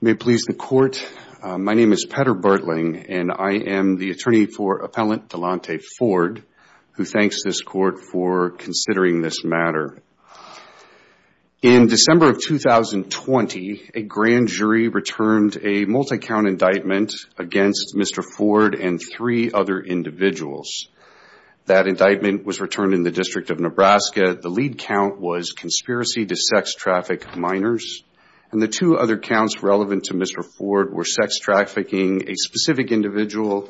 May it please the court, my name is Petter Bertling, and I am the attorney for Appellant Dalonte Foard, who thanks this court for considering this matter. In December of 2020, a grand jury returned a multi-count indictment against Mr. Foard and three other individuals. That indictment was returned in the District of Nebraska. The lead count was conspiracy to sex traffic minors, and the two other counts relevant to Mr. Foard were sex trafficking a specific individual,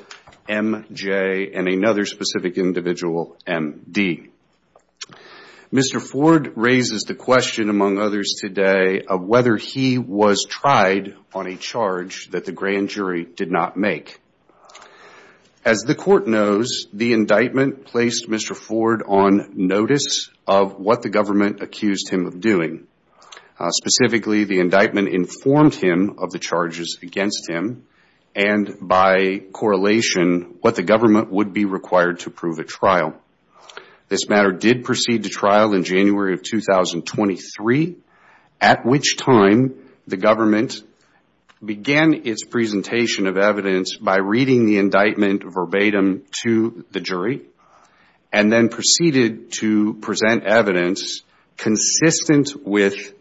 MJ, and another specific individual, MD. Mr. Foard raises the question among others today of whether he was tried on a charge that the grand jury did not make. As the court knows, the indictment placed Mr. Foard on notice of what the government accused him of doing. Specifically, the indictment informed him of the charges against him, and by correlation, what the government would be required to prove at trial. This matter did proceed to indictment verbatim to the jury, and then proceeded to present evidence consistent with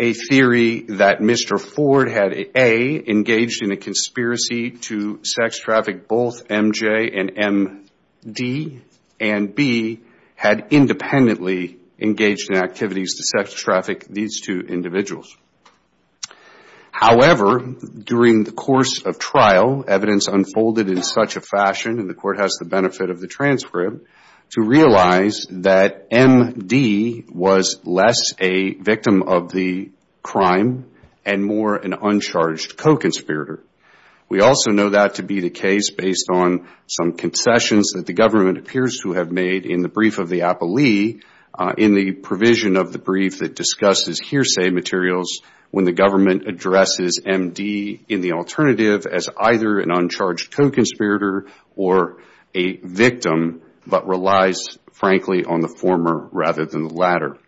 a theory that Mr. Foard had, A, engaged in a conspiracy to sex traffic both MJ and MD, and B, had independently engaged in activities to sex traffic these two individuals. However, during the course of trial, evidence unfolded in such a fashion, and the court has the benefit of the transcript, to realize that MD was less a victim of the crime and more an uncharged co-conspirator. We also know that to be the case based on some concessions that the government appears to have made in the brief of the appellee in the provision of the brief that discusses hearsay materials when the government addresses MD in the alternative as either an uncharged co-conspirator or a victim, but relies frankly on the former rather than the latter.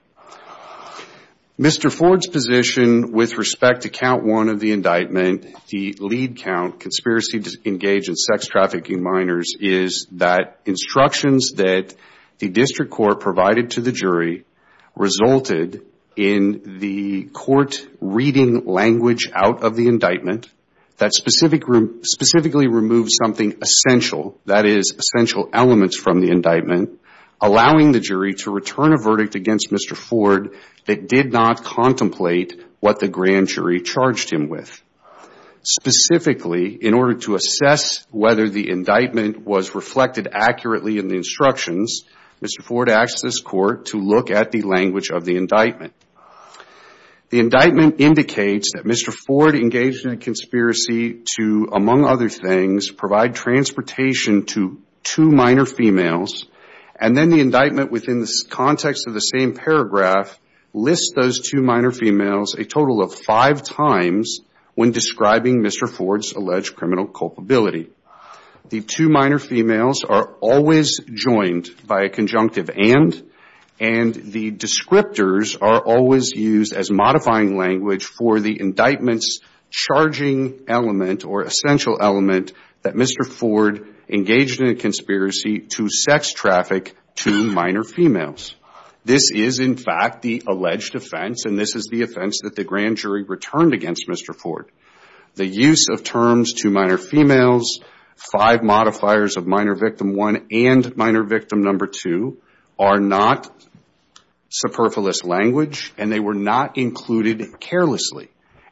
Mr. Foard's position with respect to count one of the indictment, the lead count, conspiracy to engage in sex trafficking minors, is that instructions that the district court provided to the jury resulted in the court reading language out of the indictment that specifically removed something essential, that is essential elements from the indictment, allowing the jury to return a verdict against Mr. Foard that did not contemplate what the grand jury charged him with. Specifically, in order to assess whether the indictment was reflected accurately in the language of the indictment. The indictment indicates that Mr. Foard engaged in a conspiracy to, among other things, provide transportation to two minor females, and then the indictment within the context of the same paragraph lists those two minor females a total of five times when describing Mr. Foard's alleged criminal culpability. The two minor females are always joined by a conjunctive and, and the descriptors are always used as modifying language for the indictment's charging element or essential element that Mr. Foard engaged in a conspiracy to sex traffic two minor females. This is in fact the alleged offense, and this is the offense that the grand jury returned against Mr. Foard. The use of terms two minor females, five modifiers of minor victim one and minor victim number two, are not superfluous language, and they were not included carelessly.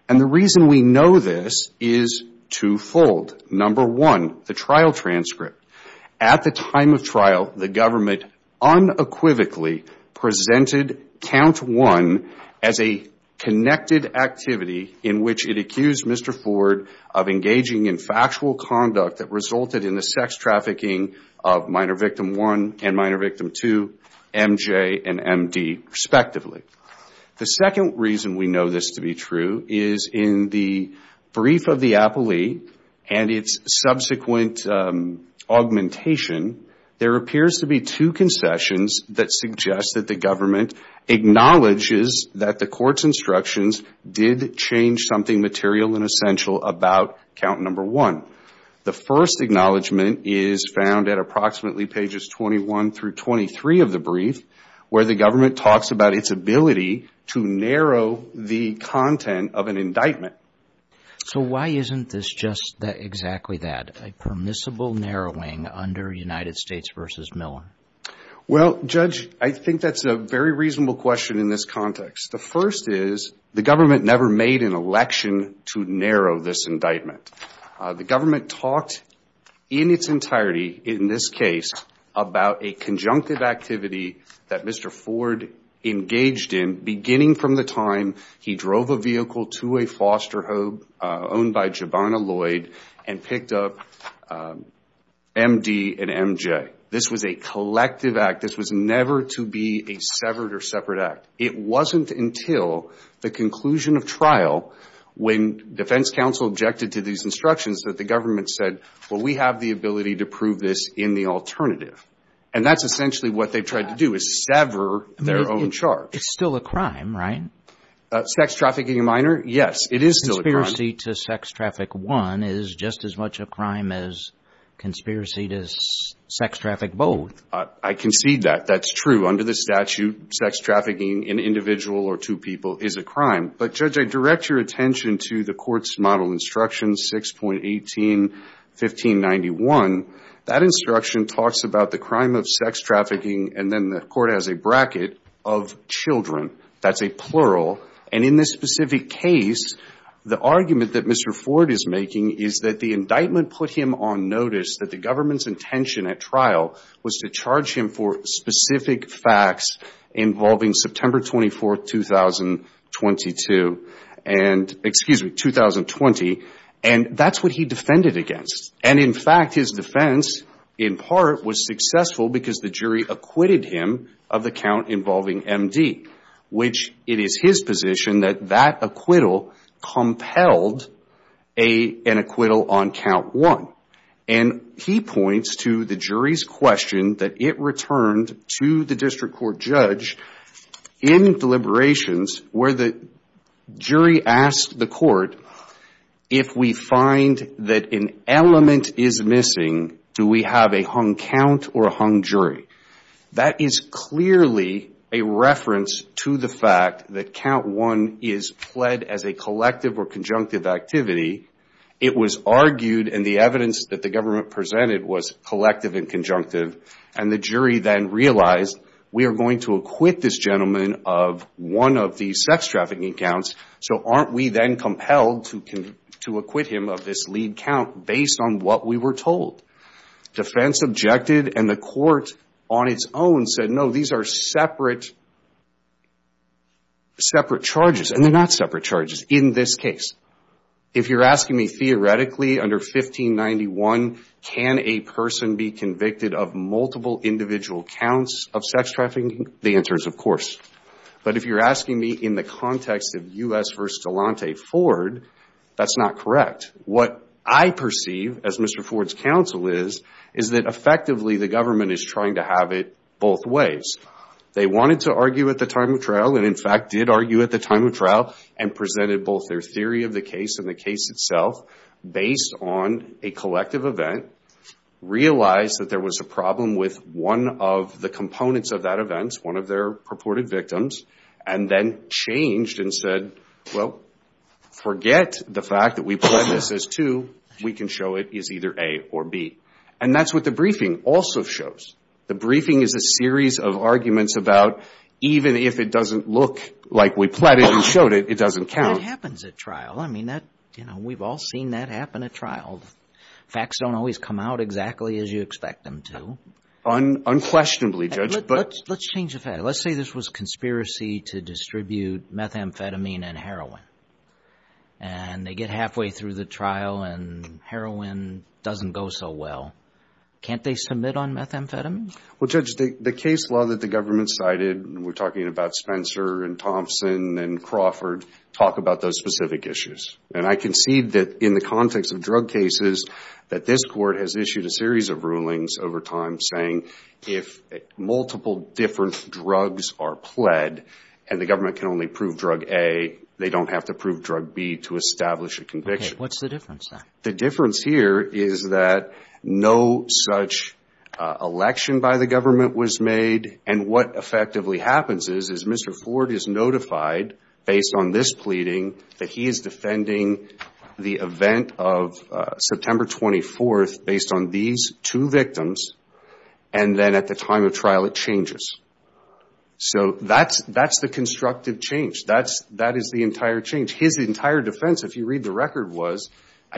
And the reason we know this is twofold. Number one, the trial transcript. At the time of trial, the government unequivocally presented count one as a connected activity in which it accused Mr. Foard of engaging in factual conduct that resulted in the sex trafficking of minor victim one and minor victim two, M.J. and M.D. respectively. The second reason we know this to be true is in the brief of the appellee and its subsequent augmentation, there appears to be two concessions that suggest that the government acknowledges that the court's instructions did change something material and essential about count number one. The first acknowledgement is found at approximately pages 21 through 23 of the brief, where the government talks about its ability to narrow the content of an indictment. So why isn't this just exactly that, a permissible narrowing under United States v. Miller? Well, Judge, I think that's a very reasonable question in this context. The first is the government never made an election to narrow this indictment. The government talked in its entirety, in this case, about a conjunctive activity that Mr. Foard engaged in beginning from the time he drove a vehicle to a foster home owned by Jabana Lloyd and picked up M.D. and M.J. This was a collective act. This was never to be a severed or separate act. It wasn't until the conclusion of trial when defense counsel objected to these instructions that the government said, well, we have the ability to prove this in the alternative. And that's essentially what they've tried to do, is sever their own charge. It's still a crime, right? Sex trafficking of minor? Yes, it is still a crime. Conspiracy to sex traffic one is just as much a crime as conspiracy to sex traffic both. I concede that. That's true. Under the statute, sex trafficking in individual or two people is a crime. But, Judge, I direct your attention to the Court's model instruction 6.18-1591. That instruction talks about the crime of sex trafficking, and then the Court has a bracket, of children. That's a plural. And in this specific case, the argument that Mr. Ford is making is that the indictment put him on notice that the government's intention at trial was to charge him for specific facts involving September 24, 2020. And that's what he defended against. And in fact, his defense, in part, was successful because the jury acquitted him of the count involving M.D., which it is his position that that acquittal compelled an acquittal on count one. And he points to the jury's question that it returned to the district court judge in deliberations where the jury asked the court, if we find that an element is missing, do we have a hung count or a hung jury? That is clearly a reference to the fact that count one is pled as a collective or conjunctive activity. It was argued, and the evidence that the government presented was collective and conjunctive. And the jury then realized we are going to acquit this gentleman of one of the trafficking counts, so aren't we then compelled to acquit him of this lead count based on what we were told? Defense objected, and the court on its own said, no, these are separate charges. And they're not separate charges in this case. If you're asking me, theoretically, under 1591, can a person be convicted of multiple individual counts of sex trafficking, the answer is of course. But if you're asking me in the context of U.S. v. Galante Ford, that's not correct. What I perceive, as Mr. Ford's counsel is, is that effectively the government is trying to have it both ways. They wanted to argue at the time of trial and in fact did argue at the time of trial and presented both their theory of the case and the case itself based on a collective event, realized that there was a problem with one of the components of that event, one of their purported victims, and then changed and said, well, forget the fact that we planned this as two. We can show it is either A or B. And that's what the briefing also shows. The briefing is a series of arguments about even if it doesn't look like we planned it and showed it, it doesn't count. It happens at trial. We've all seen that happen at trial. Facts don't always come out exactly as you expect them to. Unquestionably, Judge. Let's change the fact. Let's say this was a conspiracy to distribute methamphetamine and heroin. And they get halfway through the trial and heroin doesn't go so well. Can't they submit on methamphetamine? Well, Judge, the case law that the government cited, we're talking about Spencer and Thompson and Crawford, talk about those specific issues. And I concede that in the context of drug cases, that this court has issued a series of rulings over time saying if multiple different drugs are pled and the government can only prove drug A, they don't have to prove drug B to establish a conviction. What's the difference? The difference here is that no such election by the government was made. And what effectively happens is, is Mr. Ford is notified based on this pleading that he is defending the event of September 24th based on these two victims. And then at the time of trial, it changes. So that's the constructive change. That is the entire change. His entire defense, if you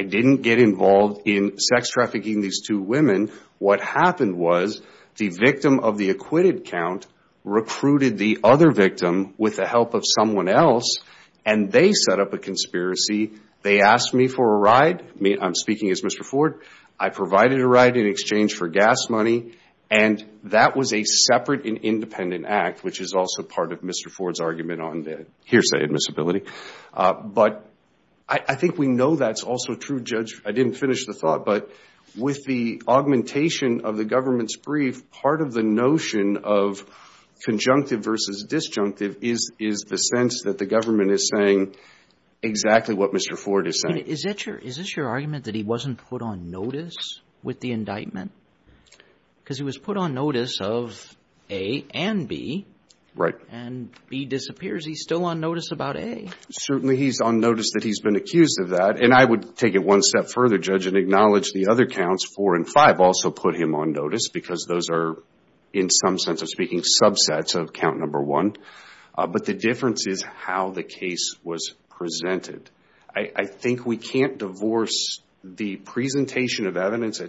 didn't get involved in sex trafficking these two women, what happened was the victim of the acquitted count recruited the other victim with the help of someone else. And they set up a conspiracy. They asked me for a ride. I'm speaking as Mr. Ford. I provided a ride in exchange for gas money. And that was a separate and independent act, which is also part of Mr. Ford's argument on the hearsay admissibility. But I think we know that's also true, Judge. I didn't finish the thought. But with the augmentation of the government's brief, part of the notion of conjunctive versus disjunctive is the sense that the government is saying exactly what Mr. Ford is saying. Is this your argument that he wasn't put on notice with the indictment? Because he was put on notice of A and B. Right. And B disappears. He's still on notice about A. Certainly he's on notice that he's been accused of that. And I would take it one step further, Judge, and acknowledge the other counts, four and five, also put him on notice because those are, in some sense of speaking, subsets of count number one. But the difference is how the case was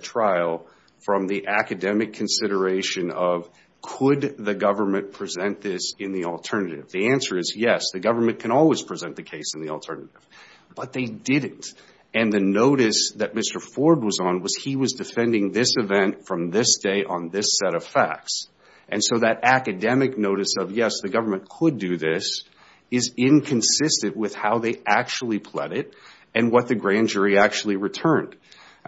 trial from the academic consideration of could the government present this in the alternative? The answer is yes, the government can always present the case in the alternative. But they didn't. And the notice that Mr. Ford was on was he was defending this event from this day on this set of facts. And so that academic notice of yes, the government could do this is inconsistent with how they actually pled it and what the grand jury actually returned.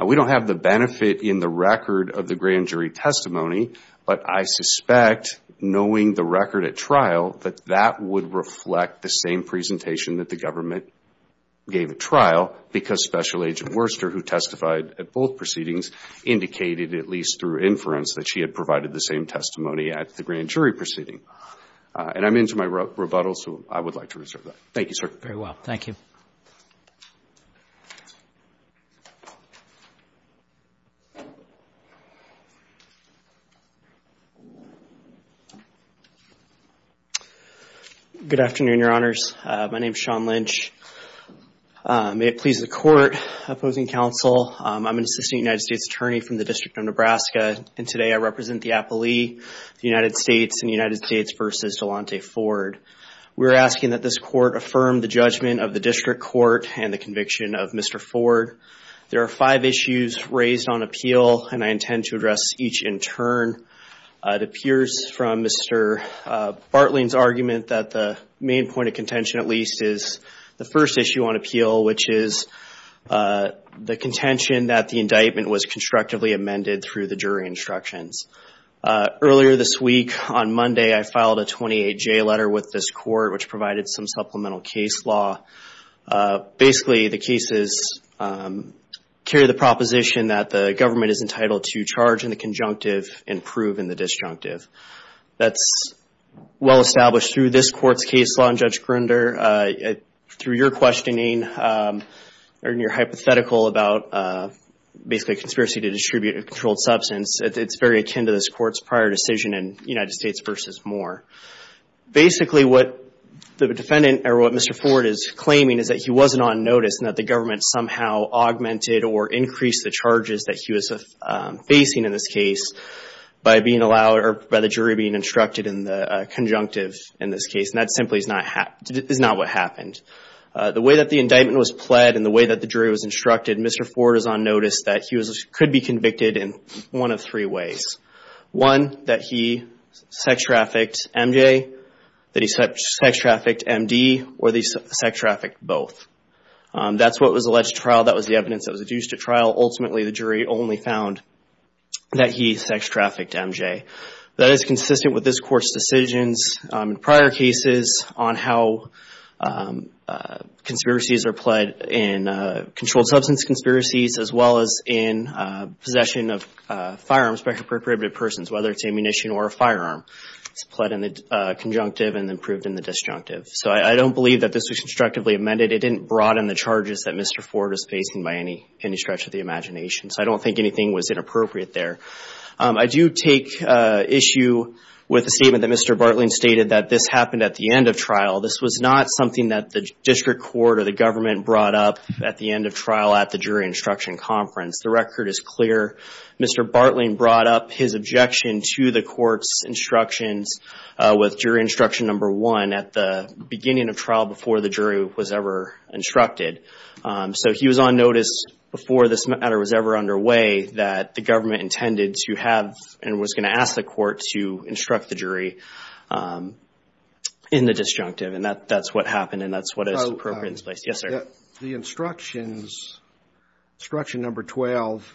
We don't have the benefit in the record of the grand jury testimony, but I suspect knowing the record at trial that that would reflect the same presentation that the government gave at trial because Special Agent Worcester, who testified at both proceedings, indicated at least through inference that she had provided the same testimony at the grand jury proceeding. And I'm into my rebuttal, so I would like to reserve that. Thank you, sir. Very well. Thank you. Good afternoon, Your Honors. My name is Sean Lynch. May it please the Court, opposing counsel, I'm an assistant United States attorney from the District of Nebraska, and today I represent the appellee, the United States and the United States versus Delonte Ford. We're asking that this court affirm the judgment of the district court and the conviction of Mr. Ford. There are five issues raised on appeal, and I intend to address each in turn. It appears from Mr. Bartling's argument that the main point of contention, at least, is the first issue on appeal, which is the contention that the indictment was constructively amended through the jury instructions. Earlier this week, on Monday, I filed a 28-J letter with this court, which provided some supplemental case law. Basically, the cases carry the proposition that the government is entitled to charge in the conjunctive and prove in the disjunctive. That's well established through this court's case law, and Judge Grunder, through your questioning and your hypothetical about basically a conspiracy to distribute a controlled substance, it's very akin to this court's prior decision in United States versus Moore. Basically, what the defendant or what Mr. Ford is claiming is that he wasn't on notice and that the government somehow augmented or increased the charges that he was facing in this case by the jury being instructed in the conjunctive in this case, and that simply is not what happened. The way that the indictment was instructed, Mr. Ford is on notice that he could be convicted in one of three ways. One, that he sex-trafficked MJ, that he sex-trafficked MD, or that he sex-trafficked both. That's what was alleged at trial. That was the evidence that was adduced at trial. Ultimately, the jury only found that he sex-trafficked MJ. That is consistent with this court's decisions in prior cases on how conspiracies are pled in controlled substance conspiracies, as well as in possession of firearms by appropriated persons, whether it's ammunition or a firearm. It's pled in the conjunctive and then proved in the disjunctive. I don't believe that this was instructively amended. It didn't broaden the charges that Mr. Ford was facing by any stretch of the imagination. I don't think anything was inappropriate there. I do take issue with the statement that Mr. Bartling happened at the end of trial. This was not something that the district court or the government brought up at the end of trial at the jury instruction conference. The record is clear. Mr. Bartling brought up his objection to the court's instructions with jury instruction number one at the beginning of trial before the jury was ever instructed. He was on notice before this matter was ever underway that the government intended to have and was going to ask the court to instruct the jury in the disjunctive. That's what happened. That's what is appropriate in this place. Yes, sir. The instructions, instruction number 12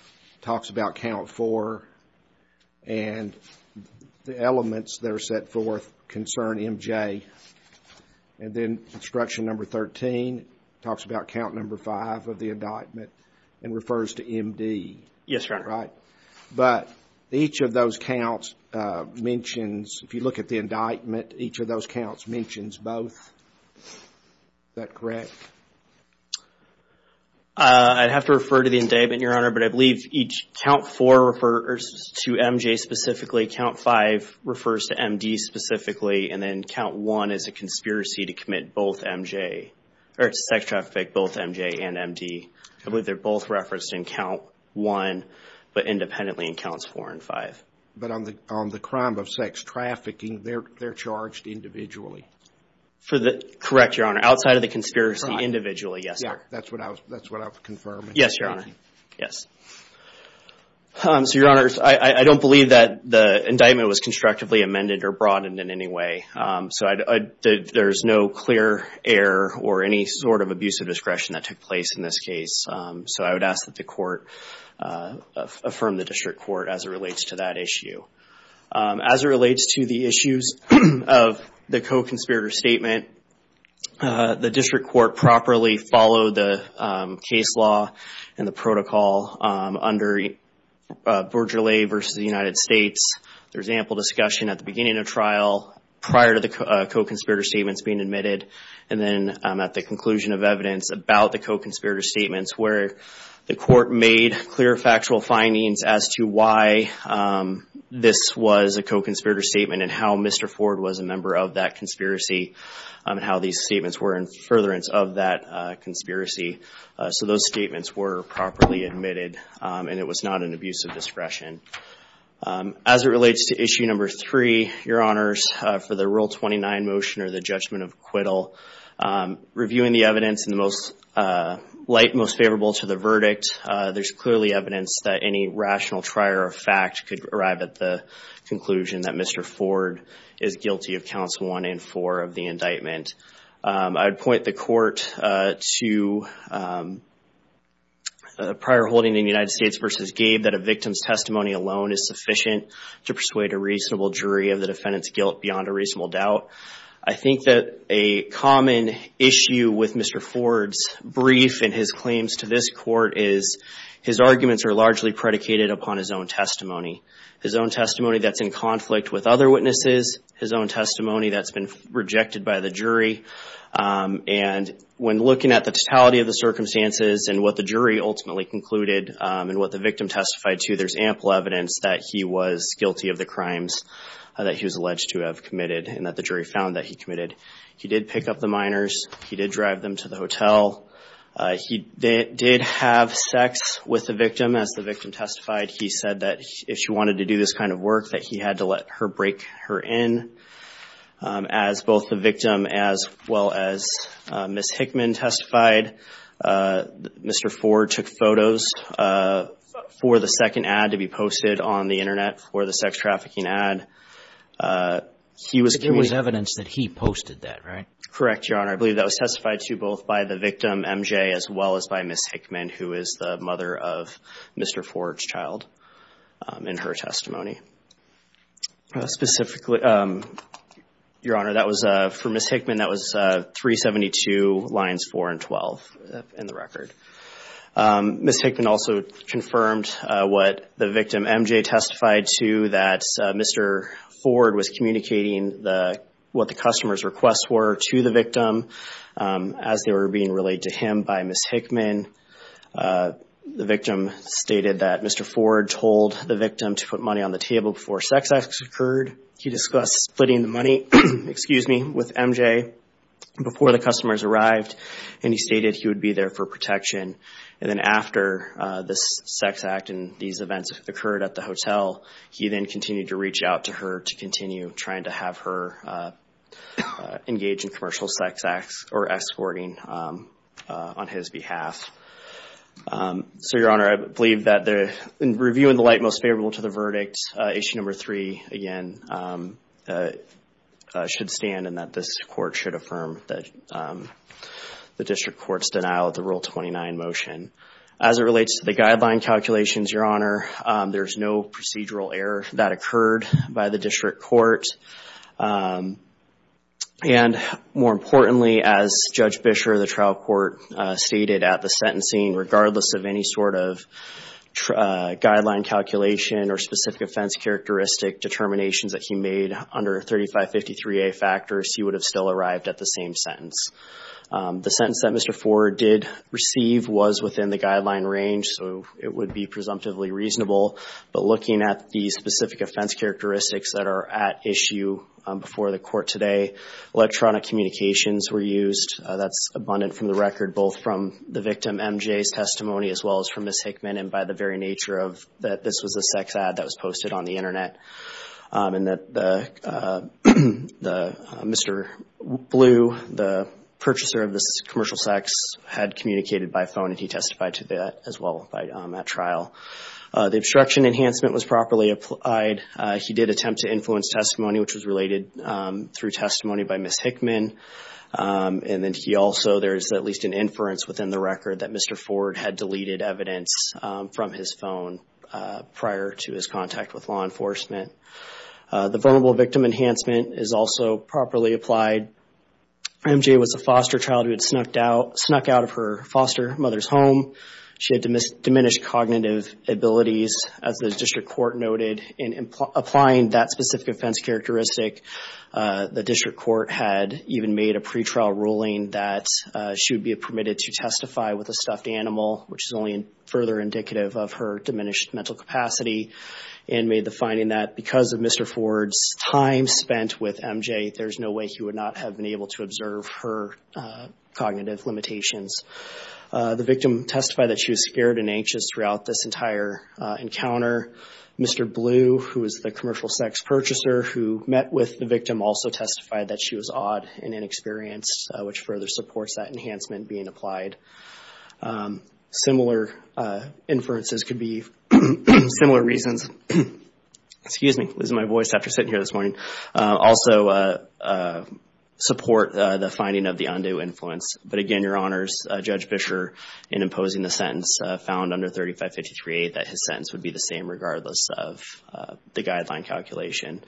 talks about count four and the elements that are set forth concern MJ. Then instruction number 13 talks about count number five of the mentions. If you look at the indictment, each of those counts mentions both. Is that correct? I'd have to refer to the indictment, Your Honor, but I believe each count four refers to MJ specifically, count five refers to MD specifically, and then count one is a conspiracy to commit both MJ or sex traffic both MJ and MD. I believe they're both referenced in count one, but independently in counts four and five. But on the crime of sex trafficking, they're charged individually. Correct, Your Honor. Outside of the conspiracy, individually. Yes, sir. That's what I'll confirm. Yes, Your Honor. I don't believe that the indictment was constructively amended or broadened in any way. There's no clear error or any sort of abuse of discretion that took in this case. So I would ask that the court affirm the district court as it relates to that issue. As it relates to the issues of the co-conspirator statement, the district court properly followed the case law and the protocol under Bourgeollais versus the United States. There's ample discussion at the beginning of trial, prior to the co-conspirator statements being admitted, and then at the conclusion of evidence about the co-conspirator statements where the court made clear factual findings as to why this was a co-conspirator statement and how Mr. Ford was a member of that conspiracy and how these statements were in furtherance of that conspiracy. So those statements were properly admitted and it was not an abuse of discretion. As it relates to issue number three, Your Honors, for the Rule 29 motion or the judgment of acquittal, reviewing the evidence in the most light, most favorable to the verdict, there's clearly evidence that any rational trier of fact could arrive at the conclusion that Mr. Ford is guilty of counts one and four of the indictment. I would point the court to a prior holding in the United States versus Gabe that a victim's testimony alone is sufficient to persuade a reasonable jury of the defendant's guilt beyond a reasonable doubt. I think that a common issue with Mr. Ford's brief and his claims to this court is his arguments are largely predicated upon his own testimony, his own testimony that's in conflict with other witnesses, his own testimony that's been rejected by the jury. And when looking at the totality of the circumstances and what the jury ultimately concluded and what the victim testified to, there's ample evidence that he was guilty of the crimes that he was alleged to have committed and that the jury found that he committed. He did pick up the minors. He did drive them to the hotel. He did have sex with the victim as the victim testified. He said that if she wanted to do this kind of work that he had to let her for the second ad to be posted on the internet for the sex trafficking ad, he was giving evidence that he posted that, right? Correct, Your Honor. I believe that was testified to both by the victim, MJ, as well as by Ms. Hickman, who is the mother of Mr. Ford's child in her testimony. Specifically, Your Honor, that was for Ms. Hickman, that was 372 lines 4 and 12 in the record. Ms. Hickman also confirmed what the victim, MJ, testified to that Mr. Ford was communicating what the customer's requests were to the victim as they were being relayed to him by Ms. Hickman. The victim stated that Mr. Ford told the victim to put money on the table before sex acts occurred. He discussed splitting the money, excuse me, with MJ before the customers arrived, and he stated he would be there for protection. Then after this sex act and these events occurred at the hotel, he then continued to reach out to her to continue trying to have her engage in commercial sex acts or escorting on his behalf. Your Honor, I believe that in reviewing the light most favorable to the verdict, issue number three, again, should stand and that this the district court's denial of the Rule 29 motion. As it relates to the guideline calculations, Your Honor, there's no procedural error that occurred by the district court. More importantly, as Judge Bisher of the trial court stated at the sentencing, regardless of any sort of guideline calculation or specific offense characteristic determinations that he did receive was within the guideline range, so it would be presumptively reasonable. But looking at the specific offense characteristics that are at issue before the court today, electronic communications were used. That's abundant from the record, both from the victim, MJ's testimony, as well as from Ms. Hickman, and by the very nature of that this was a sex ad that was posted on the internet, and that Mr. Blue, the purchaser of this commercial sex, had communicated by phone and he testified to that as well on that trial. The obstruction enhancement was properly applied. He did attempt to influence testimony, which was related through testimony by Ms. Hickman, and then he also, there's at least an inference within the record that Mr. Ford had deleted evidence from his phone prior to his contact with law enforcement. The vulnerable victim enhancement is also properly applied. MJ was a foster child who had snuck out of her foster mother's home. She had diminished cognitive abilities, as the district court noted, and applying that specific offense characteristic, the district court had even made a pre-trial ruling that she would be permitted to testify with a stuffed animal, which is only further indicative of her diminished mental capacity, and made the finding that because of Mr. Ford's time spent with MJ, there's no way he would not have been able to observe her cognitive limitations. The victim testified that she was scared and anxious throughout this entire encounter. Mr. Blue, who was the commercial sex purchaser who met with the victim, also testified that she was odd and inexperienced, which further supports that enhancement being applied. Similar inferences could be, similar reasons, excuse me, losing my voice after sitting here this morning, also support the finding of the undue influence. But again, Your Honors, Judge Bisher, in imposing the sentence, found under 3553A that his sentence would be the same of the guideline calculation.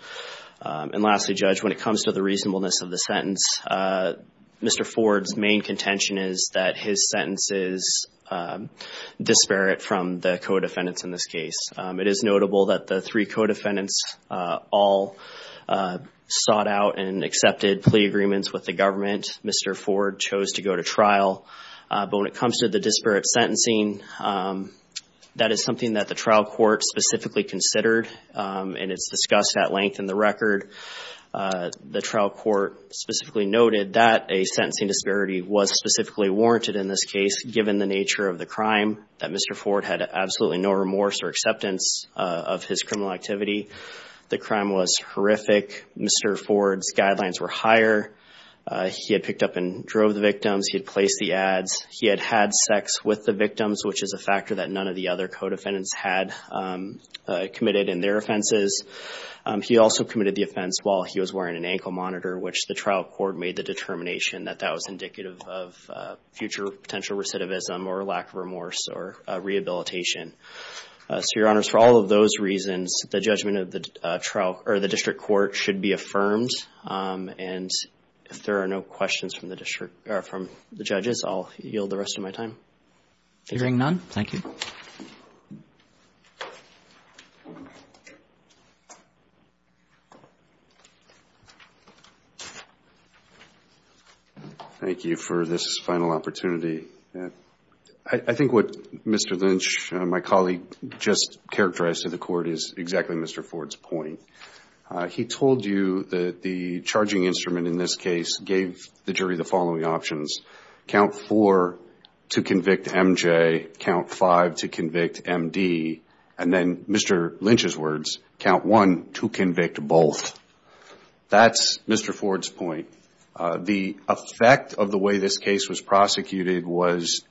And lastly, Judge, when it comes to the reasonableness of the sentence, Mr. Ford's main contention is that his sentence is disparate from the co-defendants in this case. It is notable that the three co-defendants all sought out and accepted plea agreements with the government. Mr. Ford chose to go to trial. But when it comes to the disparate sentencing, that is something that the trial court specifically considered, and it's discussed at length in the record. The trial court specifically noted that a sentencing disparity was specifically warranted in this case, given the nature of the crime, that Mr. Ford had absolutely no remorse or acceptance of his criminal activity. The crime was horrific. Mr. Ford's guidelines were higher. He had picked up and drove the victims. He had placed the ads. He had had sex with the victims, which is a factor that none of the other co-defendants had committed in their offenses. He also committed the offense while he was wearing an ankle monitor, which the trial court made the determination that that was indicative of future potential recidivism or lack of remorse or rehabilitation. So, Your Honors, for all of those reasons, the judgment of the trial or the district court should be affirmed. And if there are no questions from the district or from the judges, I'll yield the rest of my time. Hearing none, thank you. Thank you for this final opportunity. I think what Mr. Lynch, my colleague, just characterized to the court is exactly Mr. Ford's point. He told you that the charging instrument in this case gave the jury the following options, count four to convict MJ, count five to convict MD, and then Mr. Lynch's words, count one to convict both. That's Mr. Ford's point. The effect of the way this case was prosecuted was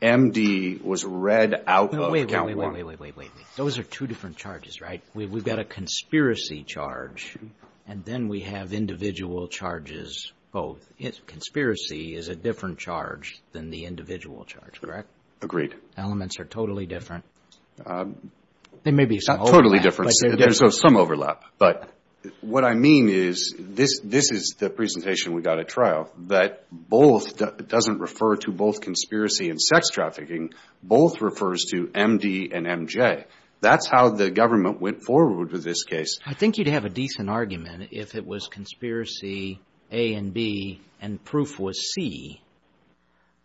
MD was read out of count one. Wait, wait, wait. Those are two different charges, right? We've got a conspiracy charge, and then we have individual charges, both. Conspiracy is a different charge than the individual charge, correct? Agreed. Elements are totally different. There may be some overlap. Totally different. There's some overlap. But what I mean is this is the presentation we got at trial that both doesn't refer to both conspiracy and sex trafficking. Both refers to MD and MJ. That's how the government went forward with this case. I think you'd have a decent argument if it was conspiracy A and B and proof was C,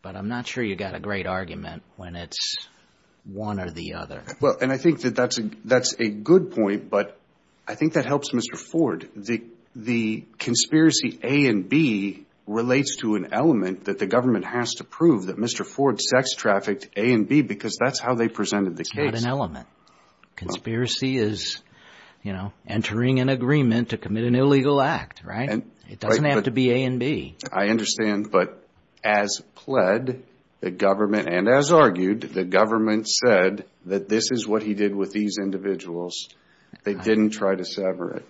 but I'm not sure you got a great argument when it's one or the other. Well, and I think that that's a good point, but I think that helps Mr. Ford. The conspiracy A and B relates to an element that the government has to prove that Mr. Ford sex conspiracy is, you know, entering an agreement to commit an illegal act, right? It doesn't have to be A and B. I understand, but as pled the government, and as argued, the government said that this is what he did with these individuals. They didn't try to sever it.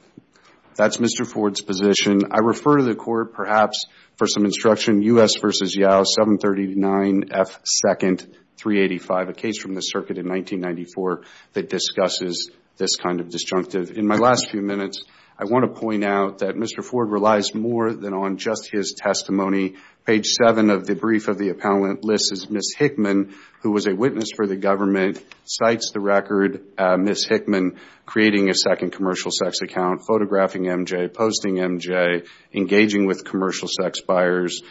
That's Mr. Ford's position. I refer to the court, perhaps for some instruction, U.S. v. Yao, 739 F. 2nd 385, a case from the circuit in 1994 that discusses this kind of disjunctive. In my last few minutes, I want to point out that Mr. Ford relies more than on just his testimony. Page 7 of the brief of the appellant lists as Ms. Hickman, who was a witness for the government, cites the record Ms. Hickman creating a second commercial sex account, photographing MJ, posting MJ, engaging with commercial sex buyers,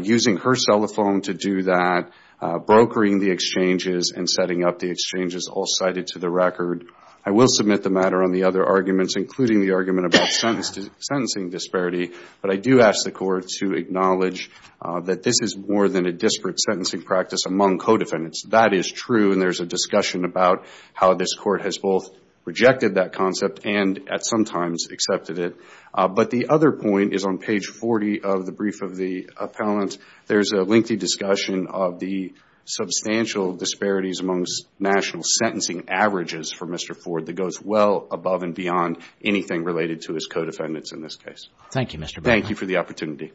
using her cell phone to do that, brokering the exchanges and setting up the exchanges, all cited to the record. I will submit the matter on the other arguments, including the argument about sentencing disparity, but I do ask the court to acknowledge that this is more than a disparate sentencing practice among co-defendants. That is true, and there's a discussion about how this court has both rejected that concept and, at some times, accepted it. But the other point is on page 40 of the brief of the appellant, there's a lengthy discussion of the substantial disparities amongst national sentencing averages for Mr. Ford that goes well above and beyond anything related to his co-defendants in this case. Thank you, Mr. Berman. Thank you for the opportunity.